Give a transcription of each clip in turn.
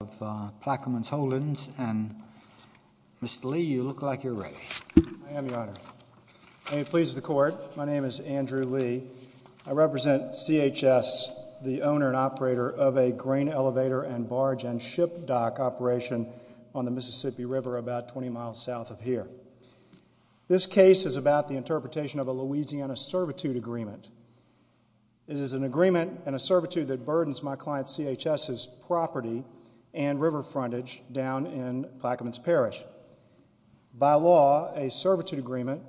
of Plaquemines Holdings, and Mr. Lee, you look like you're ready. I am, Your Honor. May it please the Court, my name is Andrew Lee. I represent CHS, the owner and operator of a grain elevator and barge and ship dock operation on the Mississippi River about 20 miles south of here. This case is about the interpretation of a Louisiana servitude agreement. It is an agreement and a servitude that burdens my client CHS's property and river frontage down in Plaquemines Parish. By law, a servitude agreement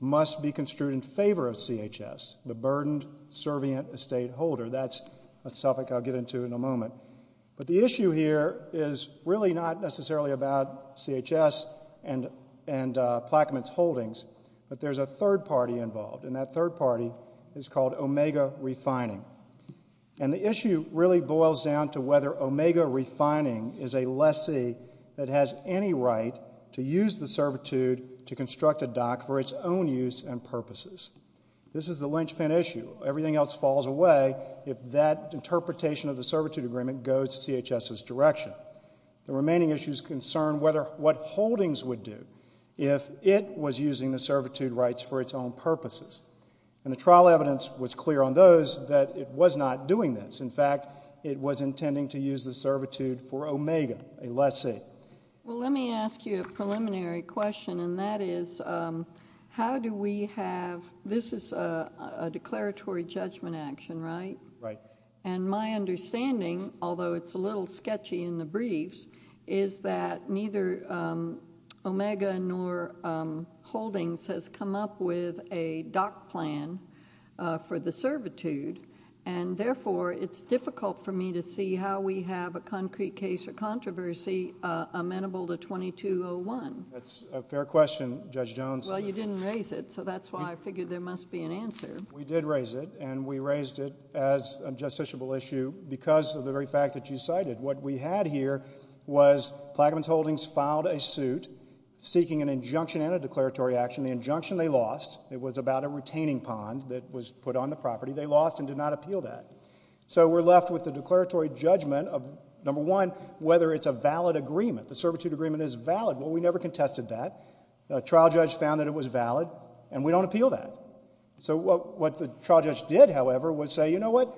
must be construed in favor of CHS, the burdened, servient estate holder. That's a topic I'll get into in a moment. But the issue here is really not necessarily about CHS and Plaquemines Holdings, but there's a third party involved, and that third party is called Omega Refining. And the issue really boils down to whether Omega Refining is a lessee that has any right to use the servitude to construct a dock for its own use and purposes. This is the linchpin issue. Everything else falls away if that interpretation of the servitude agreement goes to CHS's direction. The remaining issue is concerned with what Holdings would do if it was using the servitude rights for its own purposes. And the trial evidence was clear on those that it was not doing this. In fact, it was intending to use the servitude for Omega, a lessee. Well, let me ask you a preliminary question, and that is how do we haveó this is a declaratory judgment action, right? Right. And my understanding, although it's a little sketchy in the briefs, is that neither Omega nor Holdings has come up with a dock plan for the servitude, and therefore it's difficult for me to see how we have a concrete case or controversy amenable to 2201. That's a fair question, Judge Jones. Well, you didn't raise it, so that's why I figured there must be an answer. We did raise it, and we raised it as a justiciable issue because of the very fact that you cited. What we had here was Plaquemines Holdings filed a suit seeking an injunction and a declaratory action. The injunction they lost, it was about a retaining pond that was put on the property. They lost and did not appeal that. So we're left with the declaratory judgment of, number one, whether it's a valid agreement. The servitude agreement is valid. Well, we never contested that. The trial judge found that it was valid, and we don't appeal that. So what the trial judge did, however, was say, you know what?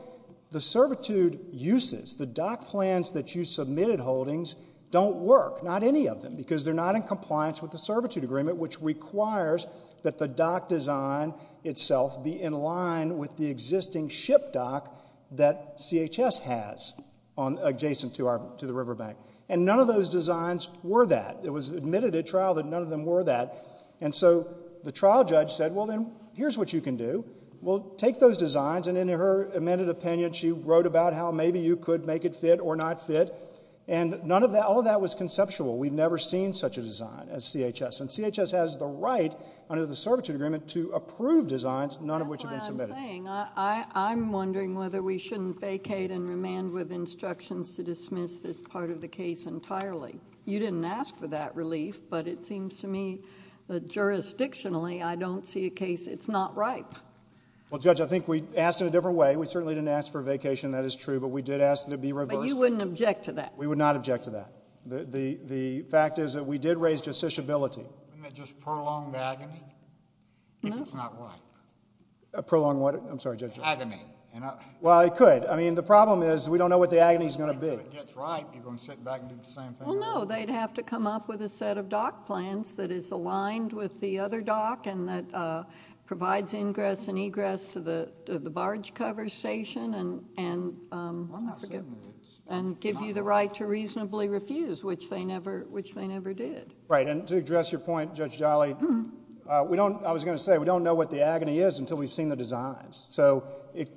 The servitude uses, the dock plans that you submitted, Holdings, don't work, not any of them, because they're not in compliance with the servitude agreement, which requires that the dock design itself be in line with the existing ship dock that CHS has adjacent to the river bank. And none of those designs were that. It was admitted at trial that none of them were that. And so the trial judge said, well, then, here's what you can do. Well, take those designs. And in her amended opinion, she wrote about how maybe you could make it fit or not fit. And none of that, all of that was conceptual. We've never seen such a design at CHS. And CHS has the right under the servitude agreement to approve designs, none of which have been submitted. That's why I'm saying, I'm wondering whether we shouldn't vacate and remand with instructions to dismiss this part of the case entirely. You didn't ask for that relief, but it seems to me that jurisdictionally I don't see a case it's not ripe. Well, Judge, I think we asked in a different way. We certainly didn't ask for a vacation, that is true, but we did ask that it be reversed. But you wouldn't object to that? We would not object to that. The fact is that we did raise justiciability. Wouldn't it just prolong the agony if it's not ripe? Prolong what? I'm sorry, Judge. Agony. Well, it could. I mean, the problem is we don't know what the agony is going to be. If it gets ripe, you're going to sit back and do the same thing? Well, no. They'd have to come up with a set of dock plans that is aligned with the other dock and that provides ingress and egress to the barge cover station and give you the right to reasonably refuse, which they never did. Right. And to address your point, Judge Jolly, I was going to say, we don't know what the agony is until we've seen the designs. So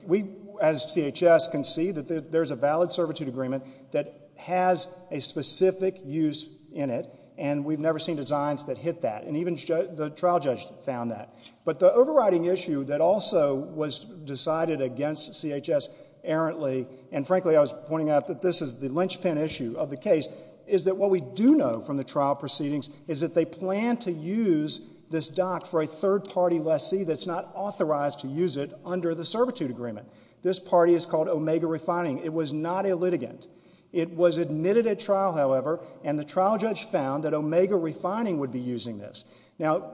we, as CHS, can see that there's a valid servitude agreement that has a specific use in it, and we've never seen designs that hit that, and even the trial judge found that. But the overriding issue that also was decided against CHS errantly, and frankly I was pointing out that this is the linchpin issue of the case, is that what we do know from the trial proceedings is that they plan to use this dock for a third-party lessee that's not authorized to use it under the servitude agreement. This party is called Omega Refining. It was not a litigant. It was admitted at trial, however, and the trial judge found that Omega Refining would be using this. Now,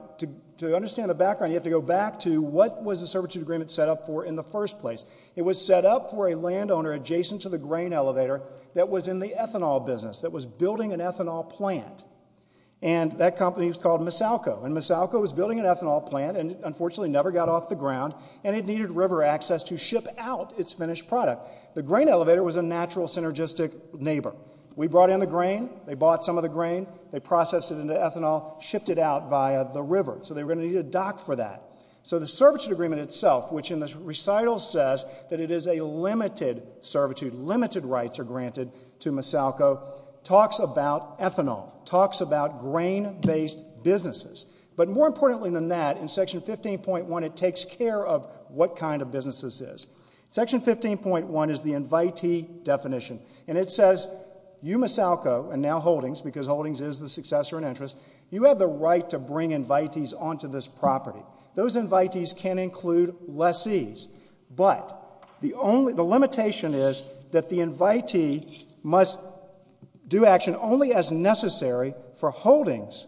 to understand the background, you have to go back to what was the servitude agreement set up for in the first place. It was set up for a landowner adjacent to the grain elevator that was in the ethanol business, that was building an ethanol plant, and that company was called Misalco, and Misalco was building an ethanol plant and unfortunately never got off the ground, and it needed river access to ship out its finished product. The grain elevator was a natural synergistic neighbor. We brought in the grain. They bought some of the grain. They processed it into ethanol, shipped it out via the river, so they were going to need a dock for that. So the servitude agreement itself, which in the recital says that it is a limited servitude, limited rights are granted to Misalco, talks about ethanol, talks about grain-based businesses. But more importantly than that, in Section 15.1, it takes care of what kind of business this is. Section 15.1 is the invitee definition, and it says you, Misalco, and now Holdings, because Holdings is the successor in interest, you have the right to bring invitees onto this property. Those invitees can include lessees. But the limitation is that the invitee must do action only as necessary for Holdings,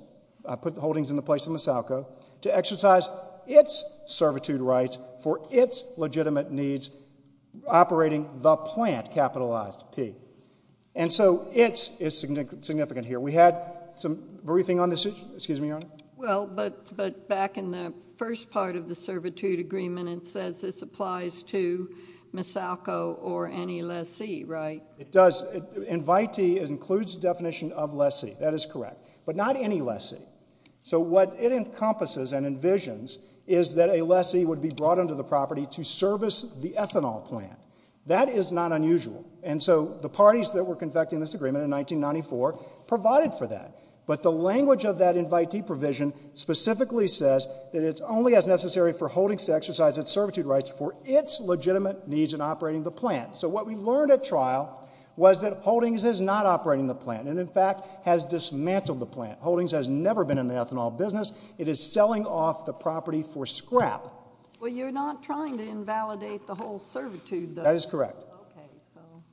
put Holdings in the place of Misalco, to exercise its servitude rights for its legitimate needs operating the plant, capitalized P. And so its is significant here. We had some briefing on this. Excuse me, Your Honor. Well, but back in the first part of the servitude agreement, it says this applies to Misalco or any lessee, right? It does. Invitee includes the definition of lessee. That is correct. But not any lessee. So what it encompasses and envisions is that a lessee would be brought onto the property to service the ethanol plant. That is not unusual. And so the parties that were convecting this agreement in 1994 provided for that. But the language of that invitee provision specifically says that it's only as necessary for Holdings to exercise its servitude rights for its legitimate needs in operating the plant. So what we learned at trial was that Holdings is not operating the plant and, in fact, has dismantled the plant. Holdings has never been in the ethanol business. It is selling off the property for scrap. Well, you're not trying to invalidate the whole servitude, though. That is correct.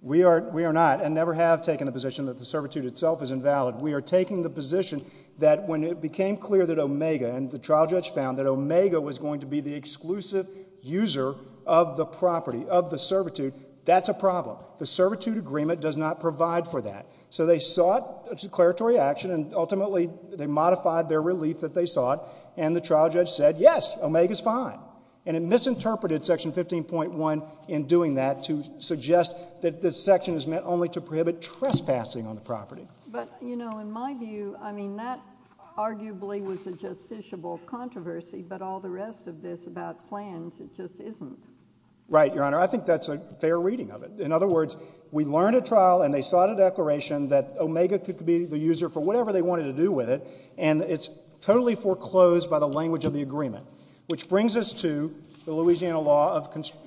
We are not and never have taken the position that the servitude itself is invalid. We are taking the position that when it became clear that Omega, and the trial judge found that Omega was going to be the exclusive user of the property, of the servitude, that's a problem. The servitude agreement does not provide for that. So they sought a declaratory action, and ultimately they modified their relief that they sought, and the trial judge said, yes, Omega's fine. And it misinterpreted Section 15.1 in doing that to suggest that this section is meant only to prohibit trespassing on the property. But, you know, in my view, I mean, that arguably was a justiciable controversy, but all the rest of this about plans, it just isn't. Right, Your Honor. I think that's a fair reading of it. In other words, we learned at trial and they sought a declaration that Omega could be the user for whatever they wanted to do with it, and it's totally foreclosed by the language of the agreement, which brings us to the Louisiana law of construction.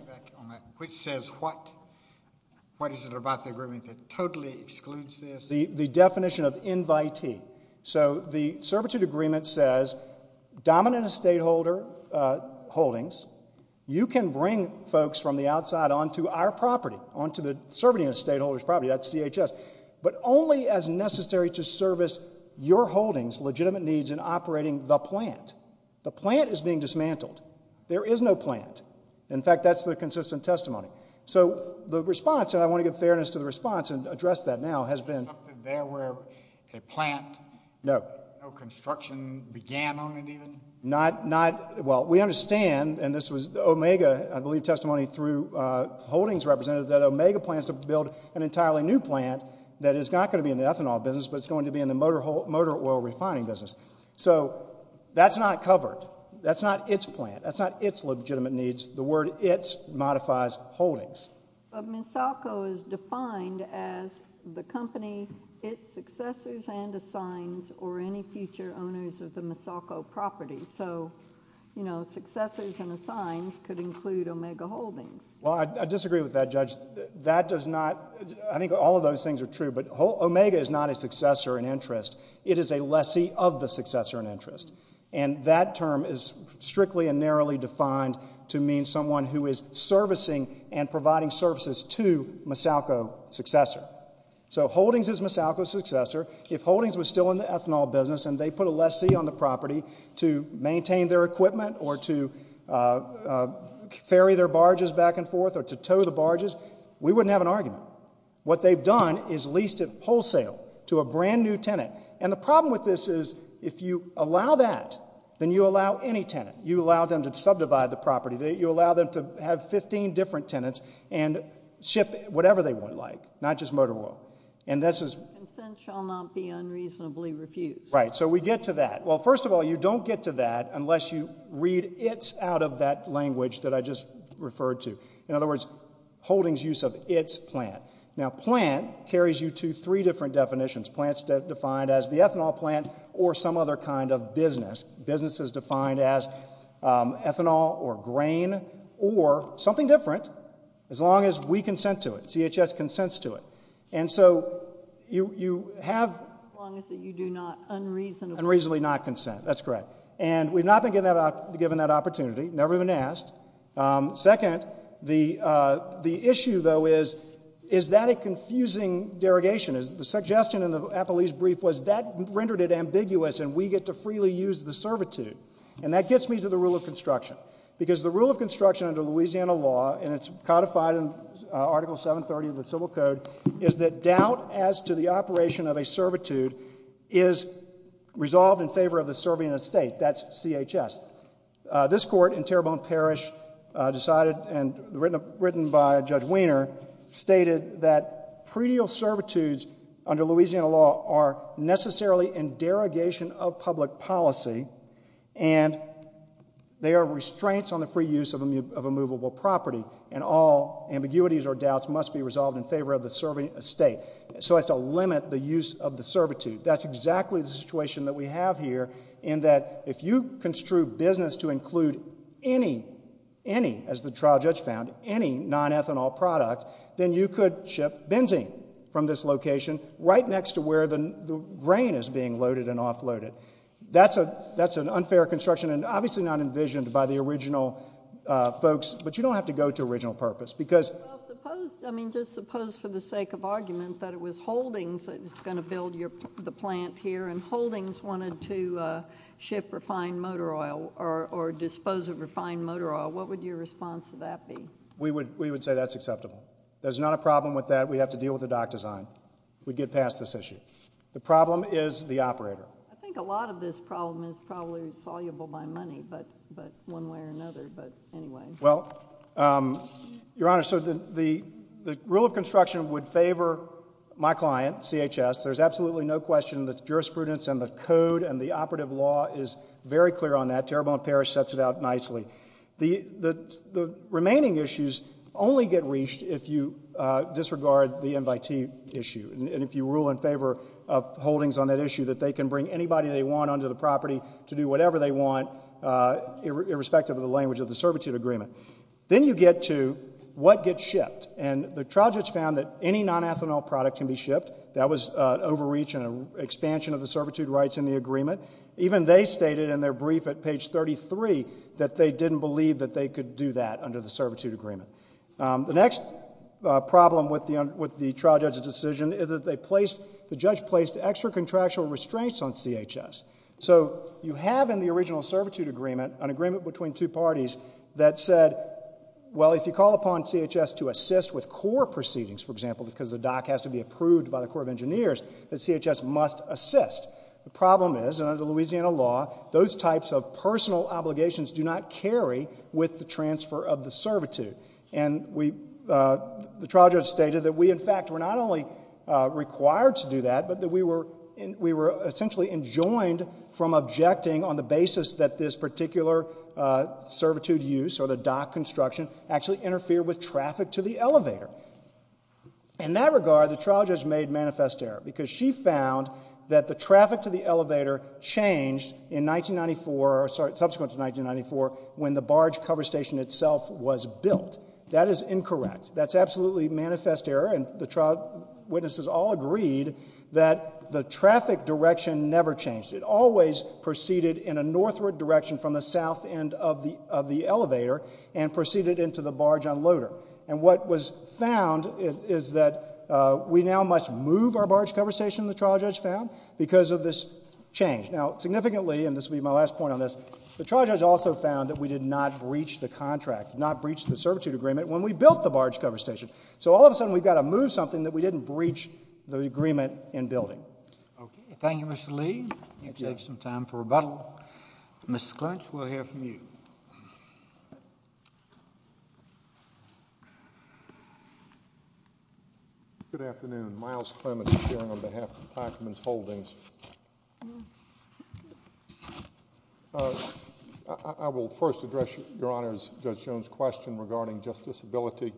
Which says what? What is it about the agreement that totally excludes this? The definition of invitee. So the servitude agreement says dominant estate holder holdings, you can bring folks from the outside onto our property, onto the servitude estate holder's property, that's CHS, but only as necessary to service your holdings' legitimate needs in operating the plant. The plant is being dismantled. There is no plant. In fact, that's the consistent testimony. So the response, and I want to give fairness to the response and address that now, has been. There were a plant. No. No construction began on it even? Not, well, we understand, and this was Omega, I believe, testimony through holdings representatives, that Omega plans to build an entirely new plant that is not going to be in the ethanol business, but it's going to be in the motor oil refining business. So that's not covered. That's not its plant. That's not its legitimate needs. The word its modifies holdings. But Misalko is defined as the company, its successors and assigns, or any future owners of the Misalko property. So, you know, successors and assigns could include Omega Holdings. Well, I disagree with that, Judge. That does not, I think all of those things are true, but Omega is not a successor in interest. It is a lessee of the successor in interest. And that term is strictly and narrowly defined to mean someone who is servicing and providing services to Misalko's successor. So holdings is Misalko's successor. If holdings was still in the ethanol business and they put a lessee on the property to maintain their equipment or to ferry their barges back and forth or to tow the barges, we wouldn't have an argument. What they've done is leased it wholesale to a brand-new tenant. And the problem with this is if you allow that, then you allow any tenant. You allow them to subdivide the property. You allow them to have 15 different tenants and ship whatever they would like, not just motor oil. And this is— Consent shall not be unreasonably refused. Right. So we get to that. Well, first of all, you don't get to that unless you read its out of that language that I just referred to. In other words, holdings use of its plant. Now, plant carries you to three different definitions. Plants defined as the ethanol plant or some other kind of business. Business is defined as ethanol or grain or something different as long as we consent to it. CHS consents to it. And so you have— As long as you do not unreasonably— Unreasonably not consent. That's correct. And we've not been given that opportunity, never been asked. Second, the issue, though, is is that a confusing derogation? The suggestion in the Appellee's brief was that rendered it ambiguous and we get to freely use the servitude. And that gets me to the rule of construction. Because the rule of construction under Louisiana law, and it's codified in Article 730 of the Civil Code, is that doubt as to the operation of a servitude is resolved in favor of the serving a state. That's CHS. This court in Terrebonne Parish decided and written by Judge Wiener stated that predial servitudes under Louisiana law are necessarily in derogation of public policy and they are restraints on the free use of immovable property. And all ambiguities or doubts must be resolved in favor of the serving a state. So as to limit the use of the servitude. That's exactly the situation that we have here in that if you construe business to include any, any, as the trial judge found, any non-ethanol product, then you could ship benzene from this location right next to where the grain is being loaded and offloaded. That's an unfair construction and obviously not envisioned by the original folks. But you don't have to go to original purpose. Just suppose for the sake of argument that it was Holdings that was going to build the plant here and Holdings wanted to ship refined motor oil or dispose of refined motor oil. What would your response to that be? We would say that's acceptable. There's not a problem with that. We'd have to deal with the dock design. We'd get past this issue. The problem is the operator. I think a lot of this problem is probably soluble by money, but one way or another. Well, Your Honor, so the rule of construction would favor my client, CHS. There's absolutely no question that the jurisprudence and the code and the operative law is very clear on that. Terrebonne Parish sets it out nicely. The remaining issues only get reached if you disregard the invitee issue. And if you rule in favor of Holdings on that issue that they can bring anybody they want onto the property to do whatever they want irrespective of the language of the servitude agreement. Then you get to what gets shipped. And the trial judge found that any nonethanol product can be shipped. That was an overreach and an expansion of the servitude rights in the agreement. Even they stated in their brief at page 33 that they didn't believe that they could do that under the servitude agreement. The next problem with the trial judge's decision is that the judge placed extra contractual restraints on CHS. So you have in the original servitude agreement an agreement between two parties that said, well, if you call upon CHS to assist with core proceedings, for example, because the dock has to be approved by the Corps of Engineers, that CHS must assist. The problem is, and under Louisiana law, those types of personal obligations do not carry with the transfer of the servitude. And the trial judge stated that we, in fact, were not only required to do that, but that we were essentially enjoined from objecting on the basis that this particular servitude use or the dock construction actually interfered with traffic to the elevator. In that regard, the trial judge made manifest error because she found that the traffic to the elevator changed in 1994, or subsequent to 1994, when the barge cover station itself was built. That is incorrect. That's absolutely manifest error. And the trial witnesses all agreed that the traffic direction never changed. It always proceeded in a northward direction from the south end of the elevator and proceeded into the barge unloader. And what was found is that we now must move our barge cover station, the trial judge found, because of this change. Now, significantly, and this will be my last point on this, the trial judge also found that we did not breach the contract, did not breach the servitude agreement when we built the barge cover station. So all of a sudden, we've got to move something that we didn't breach the agreement in building. Okay. Thank you, Mr. Lee. You've saved some time for rebuttal. Mr. Clinch, we'll hear from you. Good afternoon. Myles Clements, appearing on behalf of Taichman's Holdings. I will first address Your Honor's, Judge Jones' question regarding justiciability.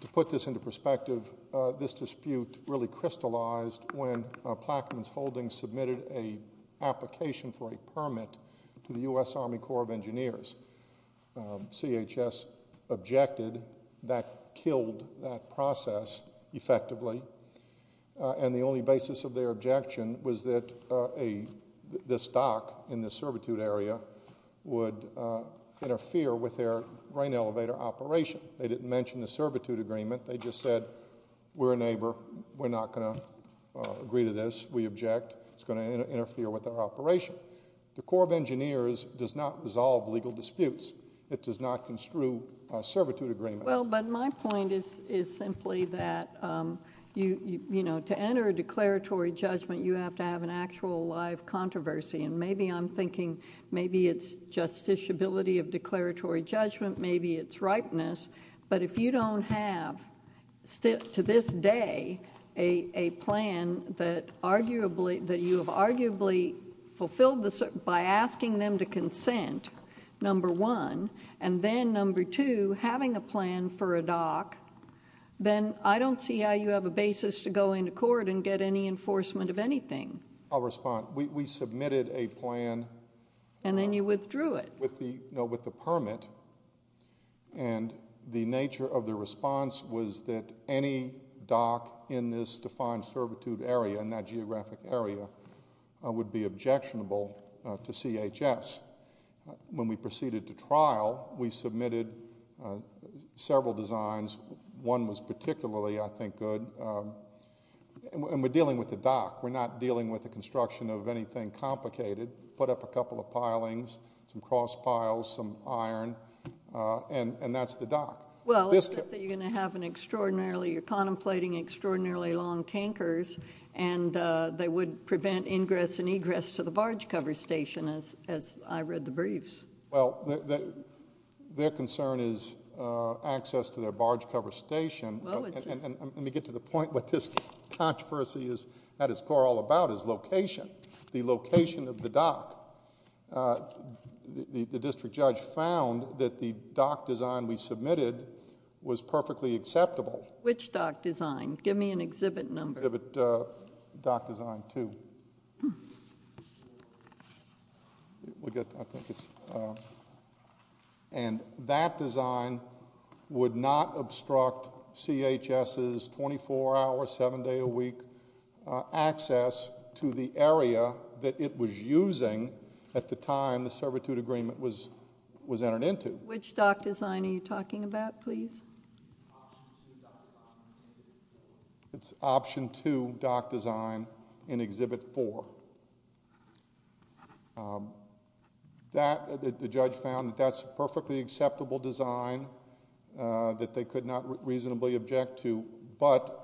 To put this into perspective, this dispute really crystallized when Taichman's Holdings submitted an application for a permit to the U.S. Army Corps of Engineers. CHS objected. That killed that process effectively. And the only basis of their objection was that the stock in the servitude area would interfere with their rain elevator operation. They didn't mention the servitude agreement. They just said, we're a neighbor. We're not going to agree to this. We object. It's going to interfere with our operation. The Corps of Engineers does not resolve legal disputes. It does not construe a servitude agreement. Well, but my point is simply that to enter a declaratory judgment, you have to have an actual, live controversy. And maybe I'm thinking, maybe it's justiciability of declaratory judgment. Maybe it's ripeness. But if you don't have, to this day, a plan that you have arguably fulfilled by asking them to consent, number one, and then, number two, having a plan for a dock, then I don't see how you have a basis to go into court and get any enforcement of anything. I'll respond. We submitted a plan. And then you withdrew it. With the permit. And the nature of the response was that any dock in this defined servitude area, in that geographic area, would be objectionable to CHS. When we proceeded to trial, we submitted several designs. One was particularly, I think, good. And we're dealing with the dock. We're not dealing with the construction of anything complicated. Put up a couple of pilings, some cross piles, some iron, and that's the dock. Well, you're going to have an extraordinarily, you're contemplating extraordinarily long tankers, and they would prevent ingress and egress to the barge cover station, as I read the briefs. Well, their concern is access to their barge cover station. Let me get to the point. What this controversy is at its core all about is location. The location of the dock. The district judge found that the dock design we submitted was perfectly acceptable. Which dock design? Give me an exhibit number. Exhibit dock design two. And that design would not obstruct CHS's 24-hour, 7-day-a-week access to the area that it was using at the time the servitude agreement was entered into. Which dock design are you talking about, please? It's option two dock design in exhibit four. The judge found that that's a perfectly acceptable design that they could not reasonably object to, but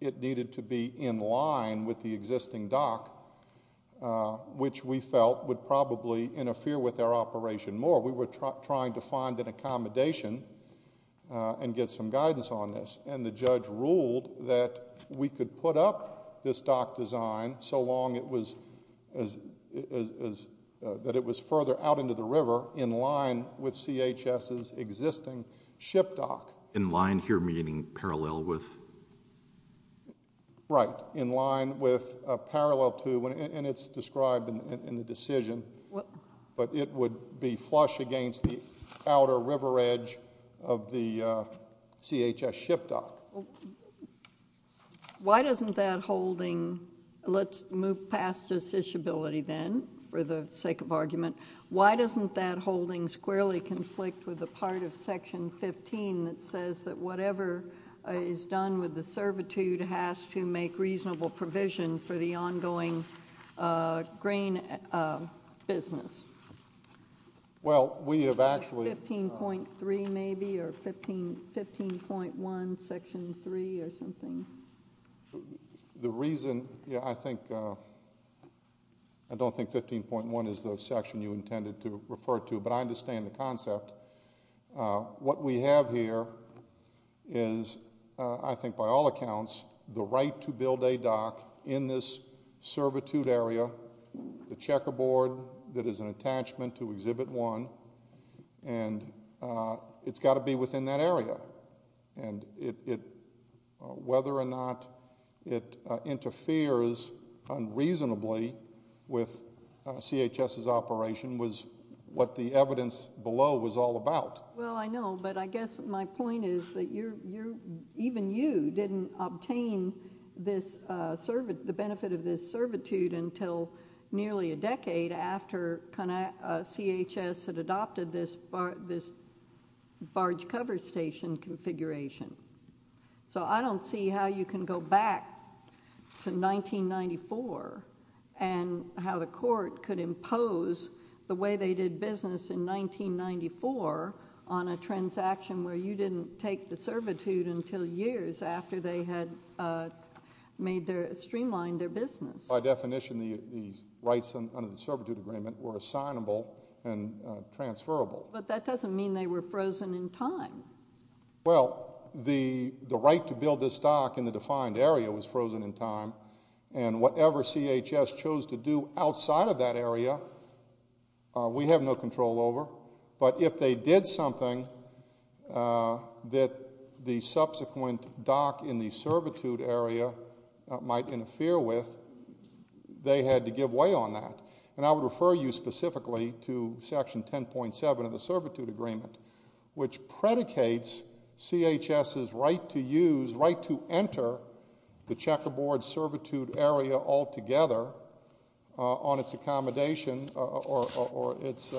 it needed to be in line with the existing dock, which we felt would probably interfere with our operation more. We were trying to find an accommodation and get some guidance on this. And the judge ruled that we could put up this dock design so long that it was further out into the river in line with CHS's existing ship dock. In line here meaning parallel with? Right. In line with, parallel to, and it's described in the decision. But it would be flush against the outer river edge of the CHS ship dock. Why doesn't that holding, let's move past this ishability then for the sake of argument. Why doesn't that holding squarely conflict with the part of section 15 that says that whatever is done with the servitude has to make reasonable provision for the ongoing grain business? Well, we have actually. 15.3 maybe or 15.1 section three or something? The reason I think, I don't think 15.1 is the section you intended to refer to, but I understand the concept. What we have here is, I think by all accounts, the right to build a dock in this servitude area. The checkerboard that is an attachment to exhibit one. And it's got to be within that area. And whether or not it interferes unreasonably with CHS's operation was what the evidence below was all about. Well, I know, but I guess my point is that even you didn't obtain the benefit of this servitude until nearly a decade after CHS had adopted this barge cover station configuration. So I don't see how you can go back to 1994 and how the court could impose the way they did business in 1994 on a transaction where you didn't take the servitude until years after they had streamlined their business. By definition, the rights under the servitude agreement were assignable and transferable. But that doesn't mean they were frozen in time. Well, the right to build this dock in the defined area was frozen in time. And whatever CHS chose to do outside of that area, we have no control over. But if they did something that the subsequent dock in the servitude area might interfere with, they had to give way on that. And I would refer you specifically to Section 10.7 of the servitude agreement, which predicates CHS's right to use, right to enter the checkerboard servitude area altogether on its accommodation or its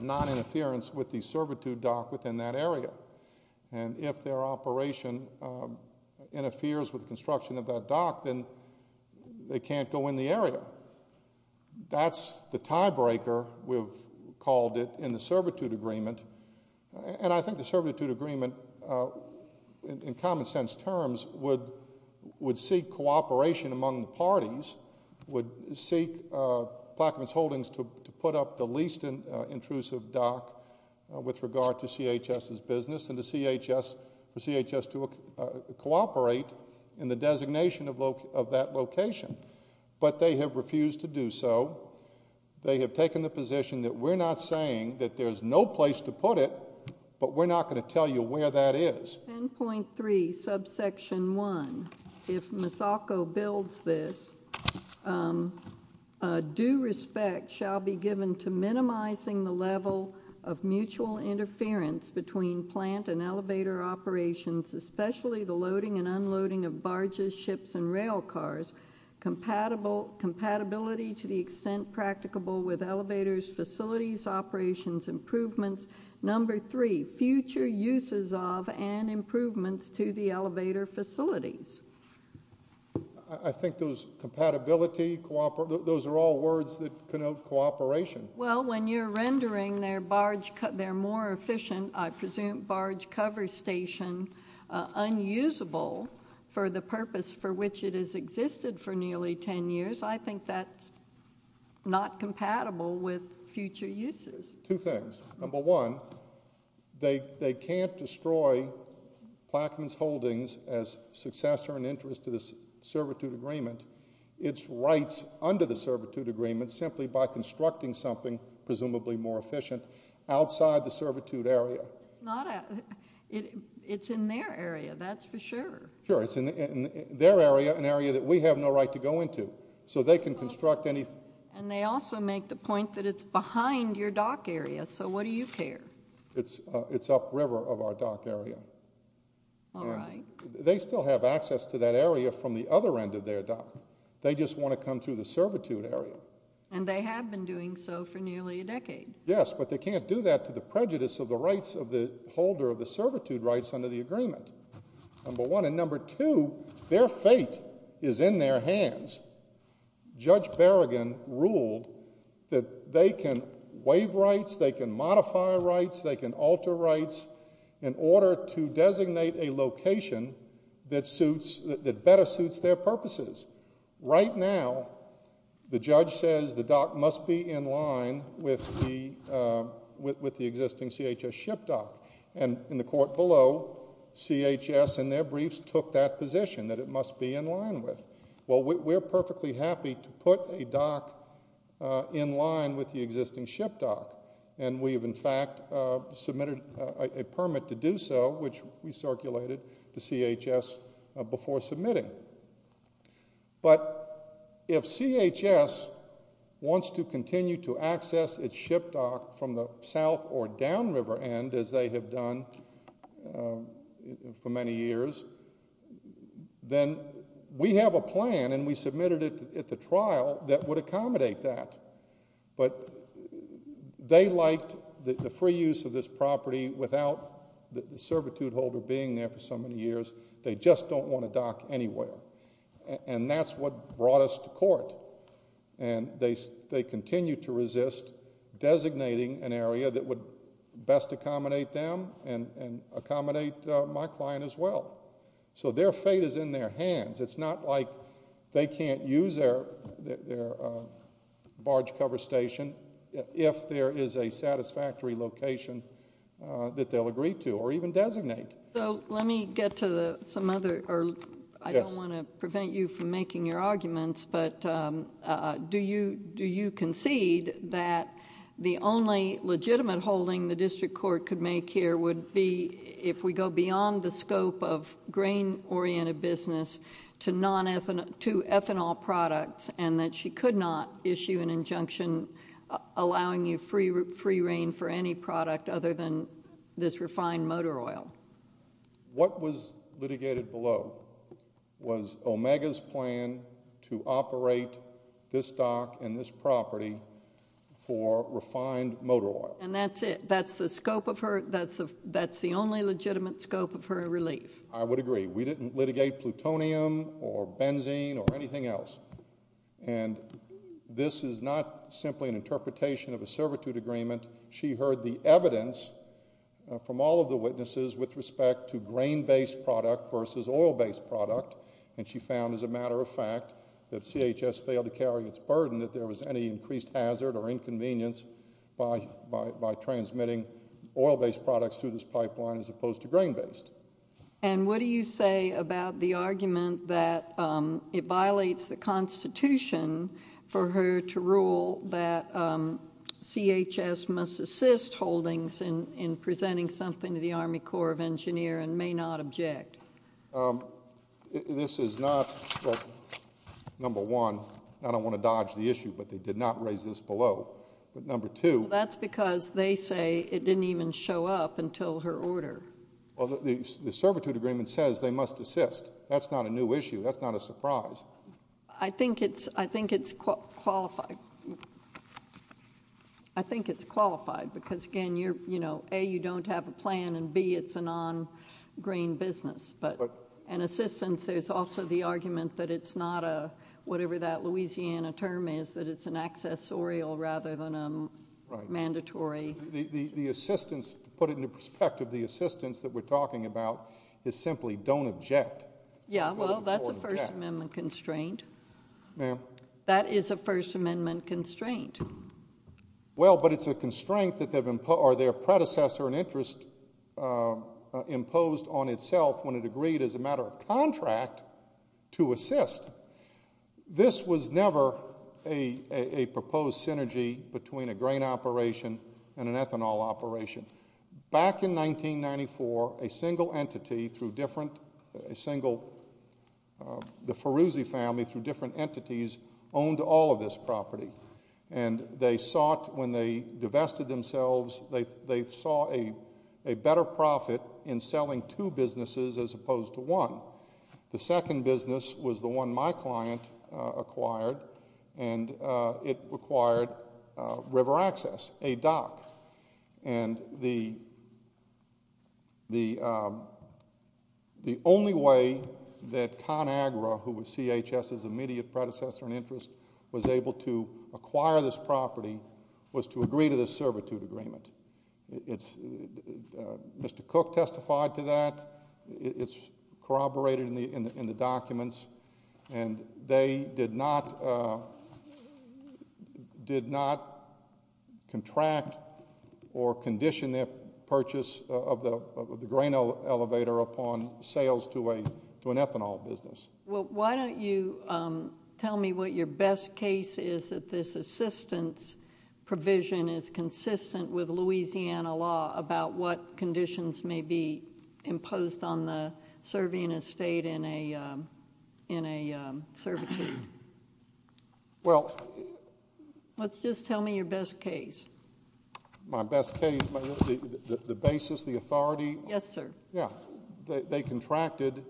noninterference with the servitude dock within that area. And if their operation interferes with the construction of that dock, then they can't go in the area. That's the tiebreaker, we've called it, in the servitude agreement. And I think the servitude agreement, in common sense terms, would seek cooperation among the parties, would seek Plaquemines Holdings to put up the least intrusive dock with regard to CHS's business and for CHS to cooperate in the designation of that location. But they have refused to do so. They have taken the position that we're not saying that there's no place to put it, but we're not going to tell you where that is. 10.3, subsection 1, if Misako builds this, due respect shall be given to minimizing the level of mutual interference between plant and elevator operations, especially the loading and unloading of barges, ships, and rail cars. Compatibility to the extent practicable with elevators, facilities, operations, improvements. Number three, future uses of and improvements to the elevator facilities. I think those compatibility, those are all words that connote cooperation. Well, when you're rendering their barge, their more efficient, I presume, barge cover station unusable for the purpose for which it has existed for nearly 10 years, I think that's not compatible with future uses. Two things. Number one, they can't destroy Plaquemines Holdings as successor and interest to the servitude agreement. It's rights under the servitude agreement simply by constructing something presumably more efficient outside the servitude area. It's in their area, that's for sure. Sure, it's in their area, an area that we have no right to go into. And they also make the point that it's behind your dock area, so what do you care? It's upriver of our dock area. All right. They still have access to that area from the other end of their dock. They just want to come through the servitude area. And they have been doing so for nearly a decade. Yes, but they can't do that to the prejudice of the rights of the holder of the servitude rights under the agreement, number one. And number two, their fate is in their hands. Judge Berrigan ruled that they can waive rights, they can modify rights, they can alter rights in order to designate a location that better suits their purposes. Right now, the judge says the dock must be in line with the existing CHS ship dock. And in the court below, CHS in their briefs took that position, that it must be in line with. Well, we're perfectly happy to put a dock in line with the existing ship dock. And we have, in fact, submitted a permit to do so, which we circulated to CHS before submitting. But if CHS wants to continue to access its ship dock from the south or downriver end, as they have done for many years, then we have a plan, and we submitted it at the trial, that would accommodate that. But they liked the free use of this property without the servitude holder being there for so many years. They just don't want a dock anywhere. And that's what brought us to court. And they continue to resist designating an area that would best accommodate them and accommodate my client as well. So their fate is in their hands. It's not like they can't use their barge cover station if there is a satisfactory location that they'll agree to or even designate. So let me get to some other, or I don't want to prevent you from making your arguments, but do you concede that the only legitimate holding the district court could make here would be if we go beyond the scope of grain-oriented business to ethanol products and that she could not issue an injunction allowing you free reign for any product other than this refined motor oil? What was litigated below was Omega's plan to operate this dock and this property for refined motor oil. And that's it? That's the scope of her, that's the only legitimate scope of her relief? I would agree. We didn't litigate plutonium or benzene or anything else. And this is not simply an interpretation of a servitude agreement. She heard the evidence from all of the witnesses with respect to grain-based product versus oil-based product, and she found, as a matter of fact, that CHS failed to carry its burden, that there was any increased hazard or inconvenience by transmitting oil-based products through this pipeline as opposed to grain-based. And what do you say about the argument that it violates the Constitution for her to rule that CHS must assist holdings in presenting something to the Army Corps of Engineers and may not object? This is not, well, number one, I don't want to dodge the issue, but they did not raise this below. But number two- That's because they say it didn't even show up until her order. Well, the servitude agreement says they must assist. That's not a new issue. That's not a surprise. I think it's qualified. I think it's qualified because, again, you're, you know, A, you don't have a plan, and B, it's a non-grain business. But an assistance is also the argument that it's not a, whatever that Louisiana term is, that it's an accessorial rather than a mandatory. The assistance, to put it into perspective, the assistance that we're talking about is simply don't object. Yeah, well, that's a First Amendment constraint. Ma'am? That is a First Amendment constraint. Well, but it's a constraint that their predecessor and interest imposed on itself when it agreed as a matter of contract to assist. This was never a proposed synergy between a grain operation and an ethanol operation. Back in 1994, a single entity through different, a single, the Feruzzi family through different entities owned all of this property. And they sought, when they divested themselves, they saw a better profit in selling two businesses as opposed to one. The second business was the one my client acquired, and it required river access, a dock. And the only way that ConAgra, who was CHS's immediate predecessor and interest, was able to acquire this property was to agree to this servitude agreement. It's, Mr. Cook testified to that. It's corroborated in the documents. And they did not, did not contract or condition their purchase of the grain elevator upon sales to an ethanol business. Well, why don't you tell me what your best case is that this assistance provision is consistent with Louisiana law about what conditions may be imposed on the, serving a state in a, in a servitude? Well. Let's just tell me your best case. My best case, the basis, the authority. Yes, sir. Yeah. They contracted,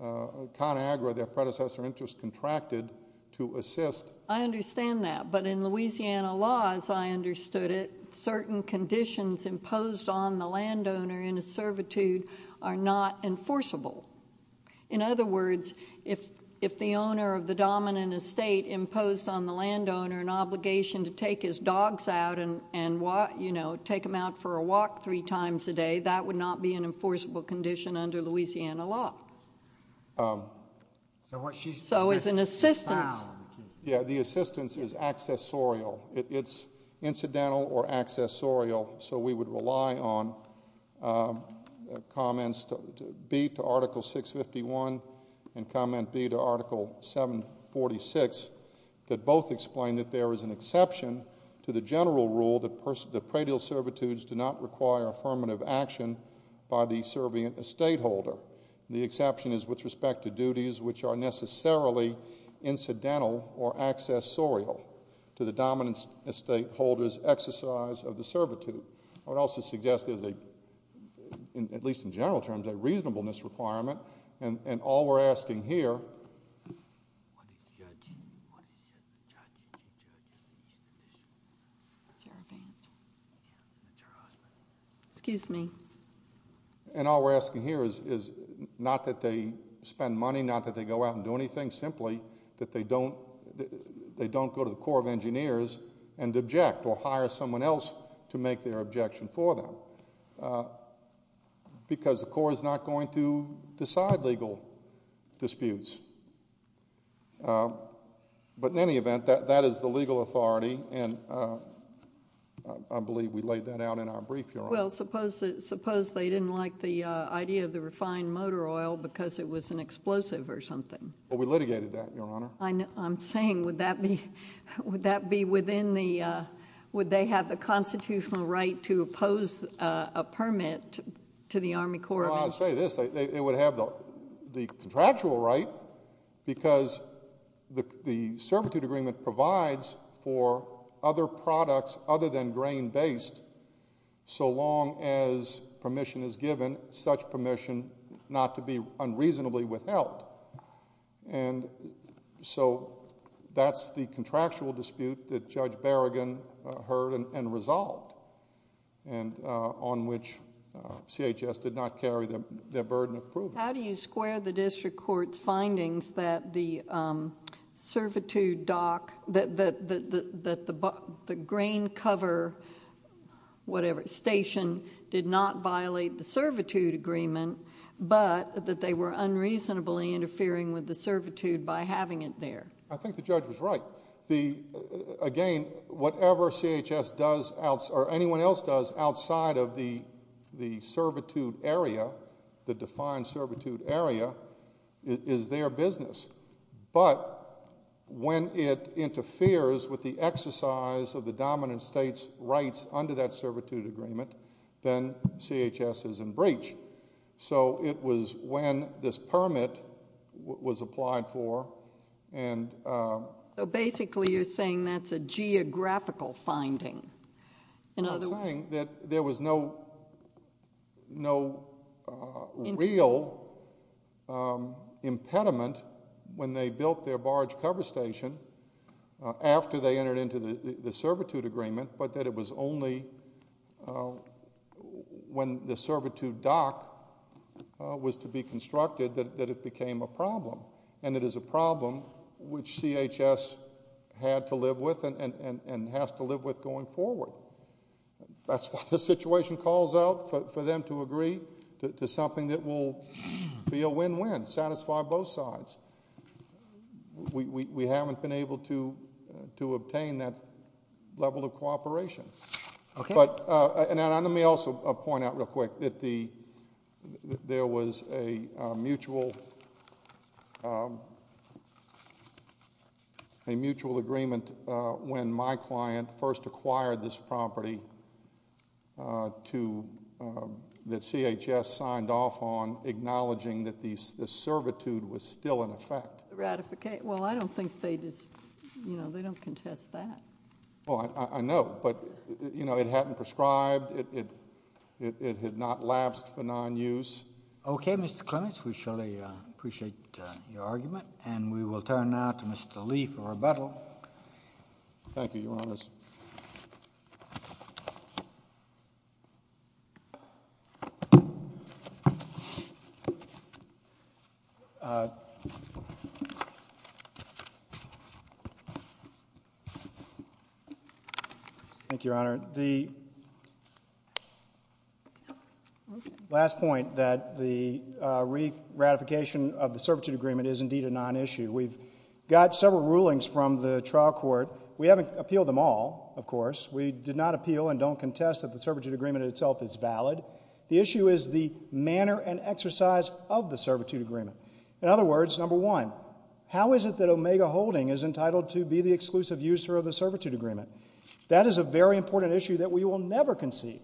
ConAgra, their predecessor interest, contracted to assist. I understand that. But in Louisiana laws, I understood it, certain conditions imposed on the landowner in a servitude are not enforceable. In other words, if, if the owner of the dominant estate imposed on the landowner an obligation to take his dogs out and walk, you know, take them out for a walk three times a day, that would not be an enforceable condition under Louisiana law. So it's an assistance. Yeah. The assistance is accessorial. It's incidental or accessorial. So we would rely on comments B to Article 651 and comment B to Article 746 that both explain that there is an exception to the general rule that personal, that praetial servitudes do not require affirmative action by the servant estate holder. The exception is with respect to duties which are necessarily incidental or accessorial to the dominant estate holder's exercise of the servitude. I would also suggest there's a, at least in general terms, a reasonableness requirement. And all we're asking here. What did the judge say? What did the judge say? What did the judge say? What did the judge say? That's your advantage. Yeah. That's her husband. Excuse me. And all we're asking here is not that they spend money, not that they go out and do anything, simply that they don't go to the Corps of Engineers and object or hire someone else to make their objection for them. Because the Corps is not going to decide legal disputes. But in any event, that is the legal authority. And I believe we laid that out in our brief, Your Honor. Well, suppose they didn't like the idea of the refined motor oil because it was an explosive or something. Well, we litigated that, Your Honor. I'm saying would that be within the, would they have the constitutional right to oppose a permit to the Army Corps of Engineers? Well, I'll say this. It would have the contractual right because the servitude agreement provides for other products other than grain-based so long as permission is given, such permission not to be unreasonably withheld. And so that's the contractual dispute that Judge Berrigan heard and resolved and on which CHS did not carry their burden of proof. How do you square the district court's findings that the servitude dock, that the grain cover station did not violate the servitude agreement, but that they were unreasonably interfering with the servitude by having it there? I think the judge was right. Again, whatever CHS does or anyone else does outside of the servitude area, the defined servitude area, is their business. But when it interferes with the exercise of the dominant state's rights under that servitude agreement, then CHS is in breach. So it was when this permit was applied for and- So basically you're saying that's a geographical finding. I'm saying that there was no real impediment when they built their barge cover station after they entered into the servitude agreement, but that it was only when the servitude dock was to be constructed that it became a problem. And it is a problem which CHS had to live with and has to live with going forward. That's why this situation calls out for them to agree to something that will be a win-win, satisfy both sides. We haven't been able to obtain that level of cooperation. Let me also point out real quick that there was a mutual agreement when my client first acquired this property that CHS signed off on, acknowledging that the servitude was still in effect. Well, I don't think they just, you know, they don't contest that. Well, I know, but, you know, it hadn't prescribed, it had not lapsed for non-use. Okay, Mr. Clements, we surely appreciate your argument. And we will turn now to Mr. Lee for rebuttal. Thank you, Your Honor. Thank you, Your Honor. The last point that the re-ratification of the servitude agreement is indeed a non-issue. We've got several rulings from the trial court. We haven't appealed them all, of course. We did not appeal and don't contest that the servitude agreement itself is valid. The issue is the manner and exercise of the servitude agreement. In other words, number one, how is it that Omega Holding is entitled to be the exclusive user of the servitude agreement? That is a very important issue that we will never concede.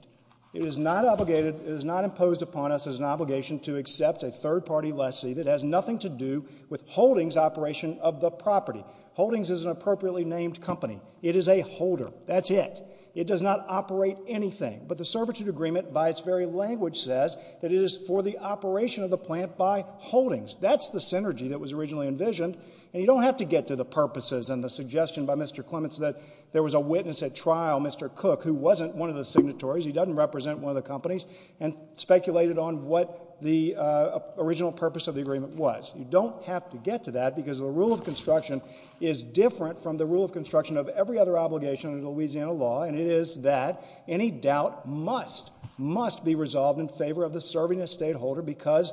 It is not obligated, it is not imposed upon us as an obligation to accept a third-party lessee that has nothing to do with Holdings' operation of the property. Holdings is an appropriately named company. It is a holder. That's it. It does not operate anything. But the servitude agreement, by its very language, says that it is for the operation of the plant by Holdings. That's the synergy that was originally envisioned. And you don't have to get to the purposes and the suggestion by Mr. Clements that there was a witness at trial, Mr. Cook, who wasn't one of the signatories, he doesn't represent one of the companies, and speculated on what the original purpose of the agreement was. You don't have to get to that because the rule of construction is different from the rule of construction of every other obligation under Louisiana law, and it is that any doubt must, must be resolved in favor of the serving estate holder because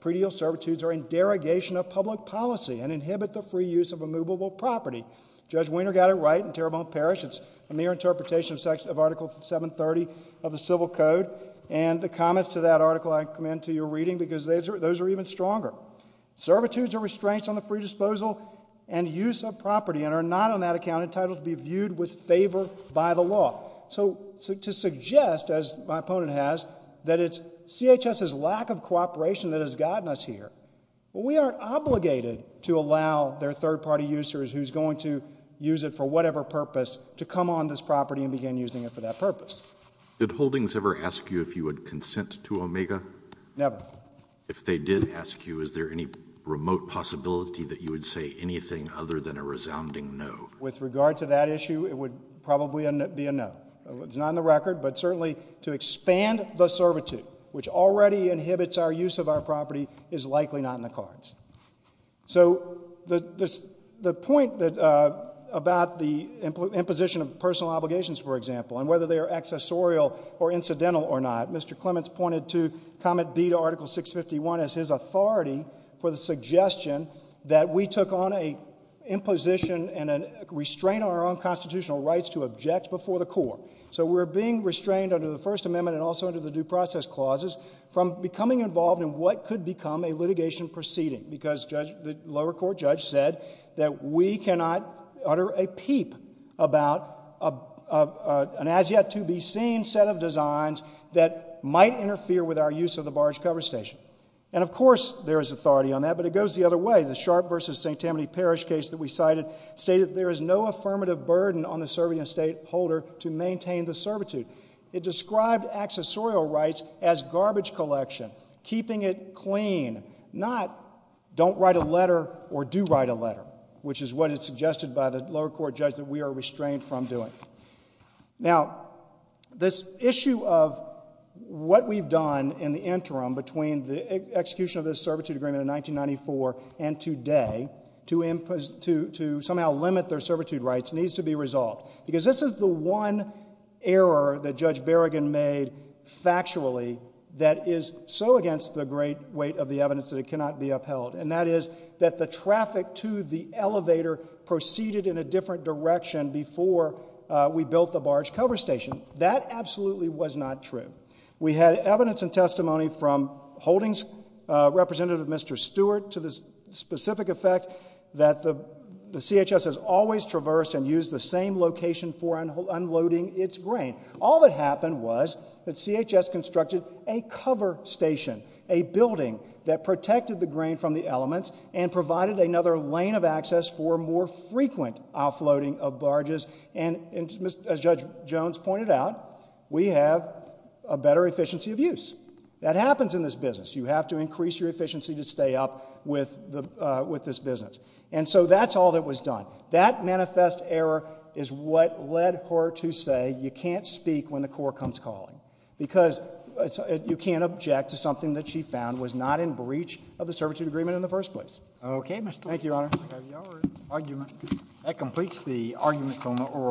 pre-deal servitudes are in derogation of public policy and inhibit the free use of immovable property. Judge Wiener got it right in Terrebonne Parish. It's a mere interpretation of Article 730 of the Civil Code. And the comments to that article I commend to your reading because those are even stronger. Servitudes are restraints on the free disposal and use of property and are not on that account entitled to be viewed with favor by the law. So to suggest, as my opponent has, that it's CHS's lack of cooperation that has gotten us here. We are obligated to allow their third-party users who's going to use it for whatever purpose to come on this property and begin using it for that purpose. Did Holdings ever ask you if you would consent to Omega? Never. If they did ask you, is there any remote possibility that you would say anything other than a resounding no? With regard to that issue, it would probably be a no. It's not in the record, but certainly to expand the servitude, which already inhibits our use of our property, is likely not in the cards. So the point about the imposition of personal obligations, for example, and whether they are accessorial or incidental or not, Mr. Clements pointed to comment B to Article 651 as his authority for the suggestion that we took on an imposition and a restraint on our own constitutional rights to object before the court. So we're being restrained under the First Amendment and also under the Due Process Clauses from becoming involved in what could become a litigation proceeding because the lower court judge said that we cannot utter a peep about an as-yet-to-be-seen set of designs that might interfere with our use of the barge cover station. And, of course, there is authority on that, but it goes the other way. The Sharp v. St. Tammany Parish case that we cited stated there is no affirmative burden on the serving estate holder to maintain the servitude. It described accessorial rights as garbage collection, keeping it clean, not don't write a letter or do write a letter, which is what is suggested by the lower court judge that we are restrained from doing. Now, this issue of what we've done in the interim between the execution of this servitude agreement in 1994 and today to somehow limit their servitude rights needs to be resolved because this is the one error that Judge Berrigan made factually that is so against the great weight of the evidence that it cannot be upheld, and that is that the traffic to the elevator proceeded in a different direction before we built the barge cover station. That absolutely was not true. We had evidence and testimony from Holdings Representative Mr. Stewart to the specific effect that the CHS has always traversed and used the same location for unloading its grain. All that happened was that CHS constructed a cover station, a building that protected the grain from the elements and provided another lane of access for more frequent offloading of barges. And as Judge Jones pointed out, we have a better efficiency of use. That happens in this business. You have to increase your efficiency to stay up with this business. And so that's all that was done. That manifest error is what led her to say you can't speak when the court comes calling because you can't object to something that she found was not in breach of the servitude agreement in the first place.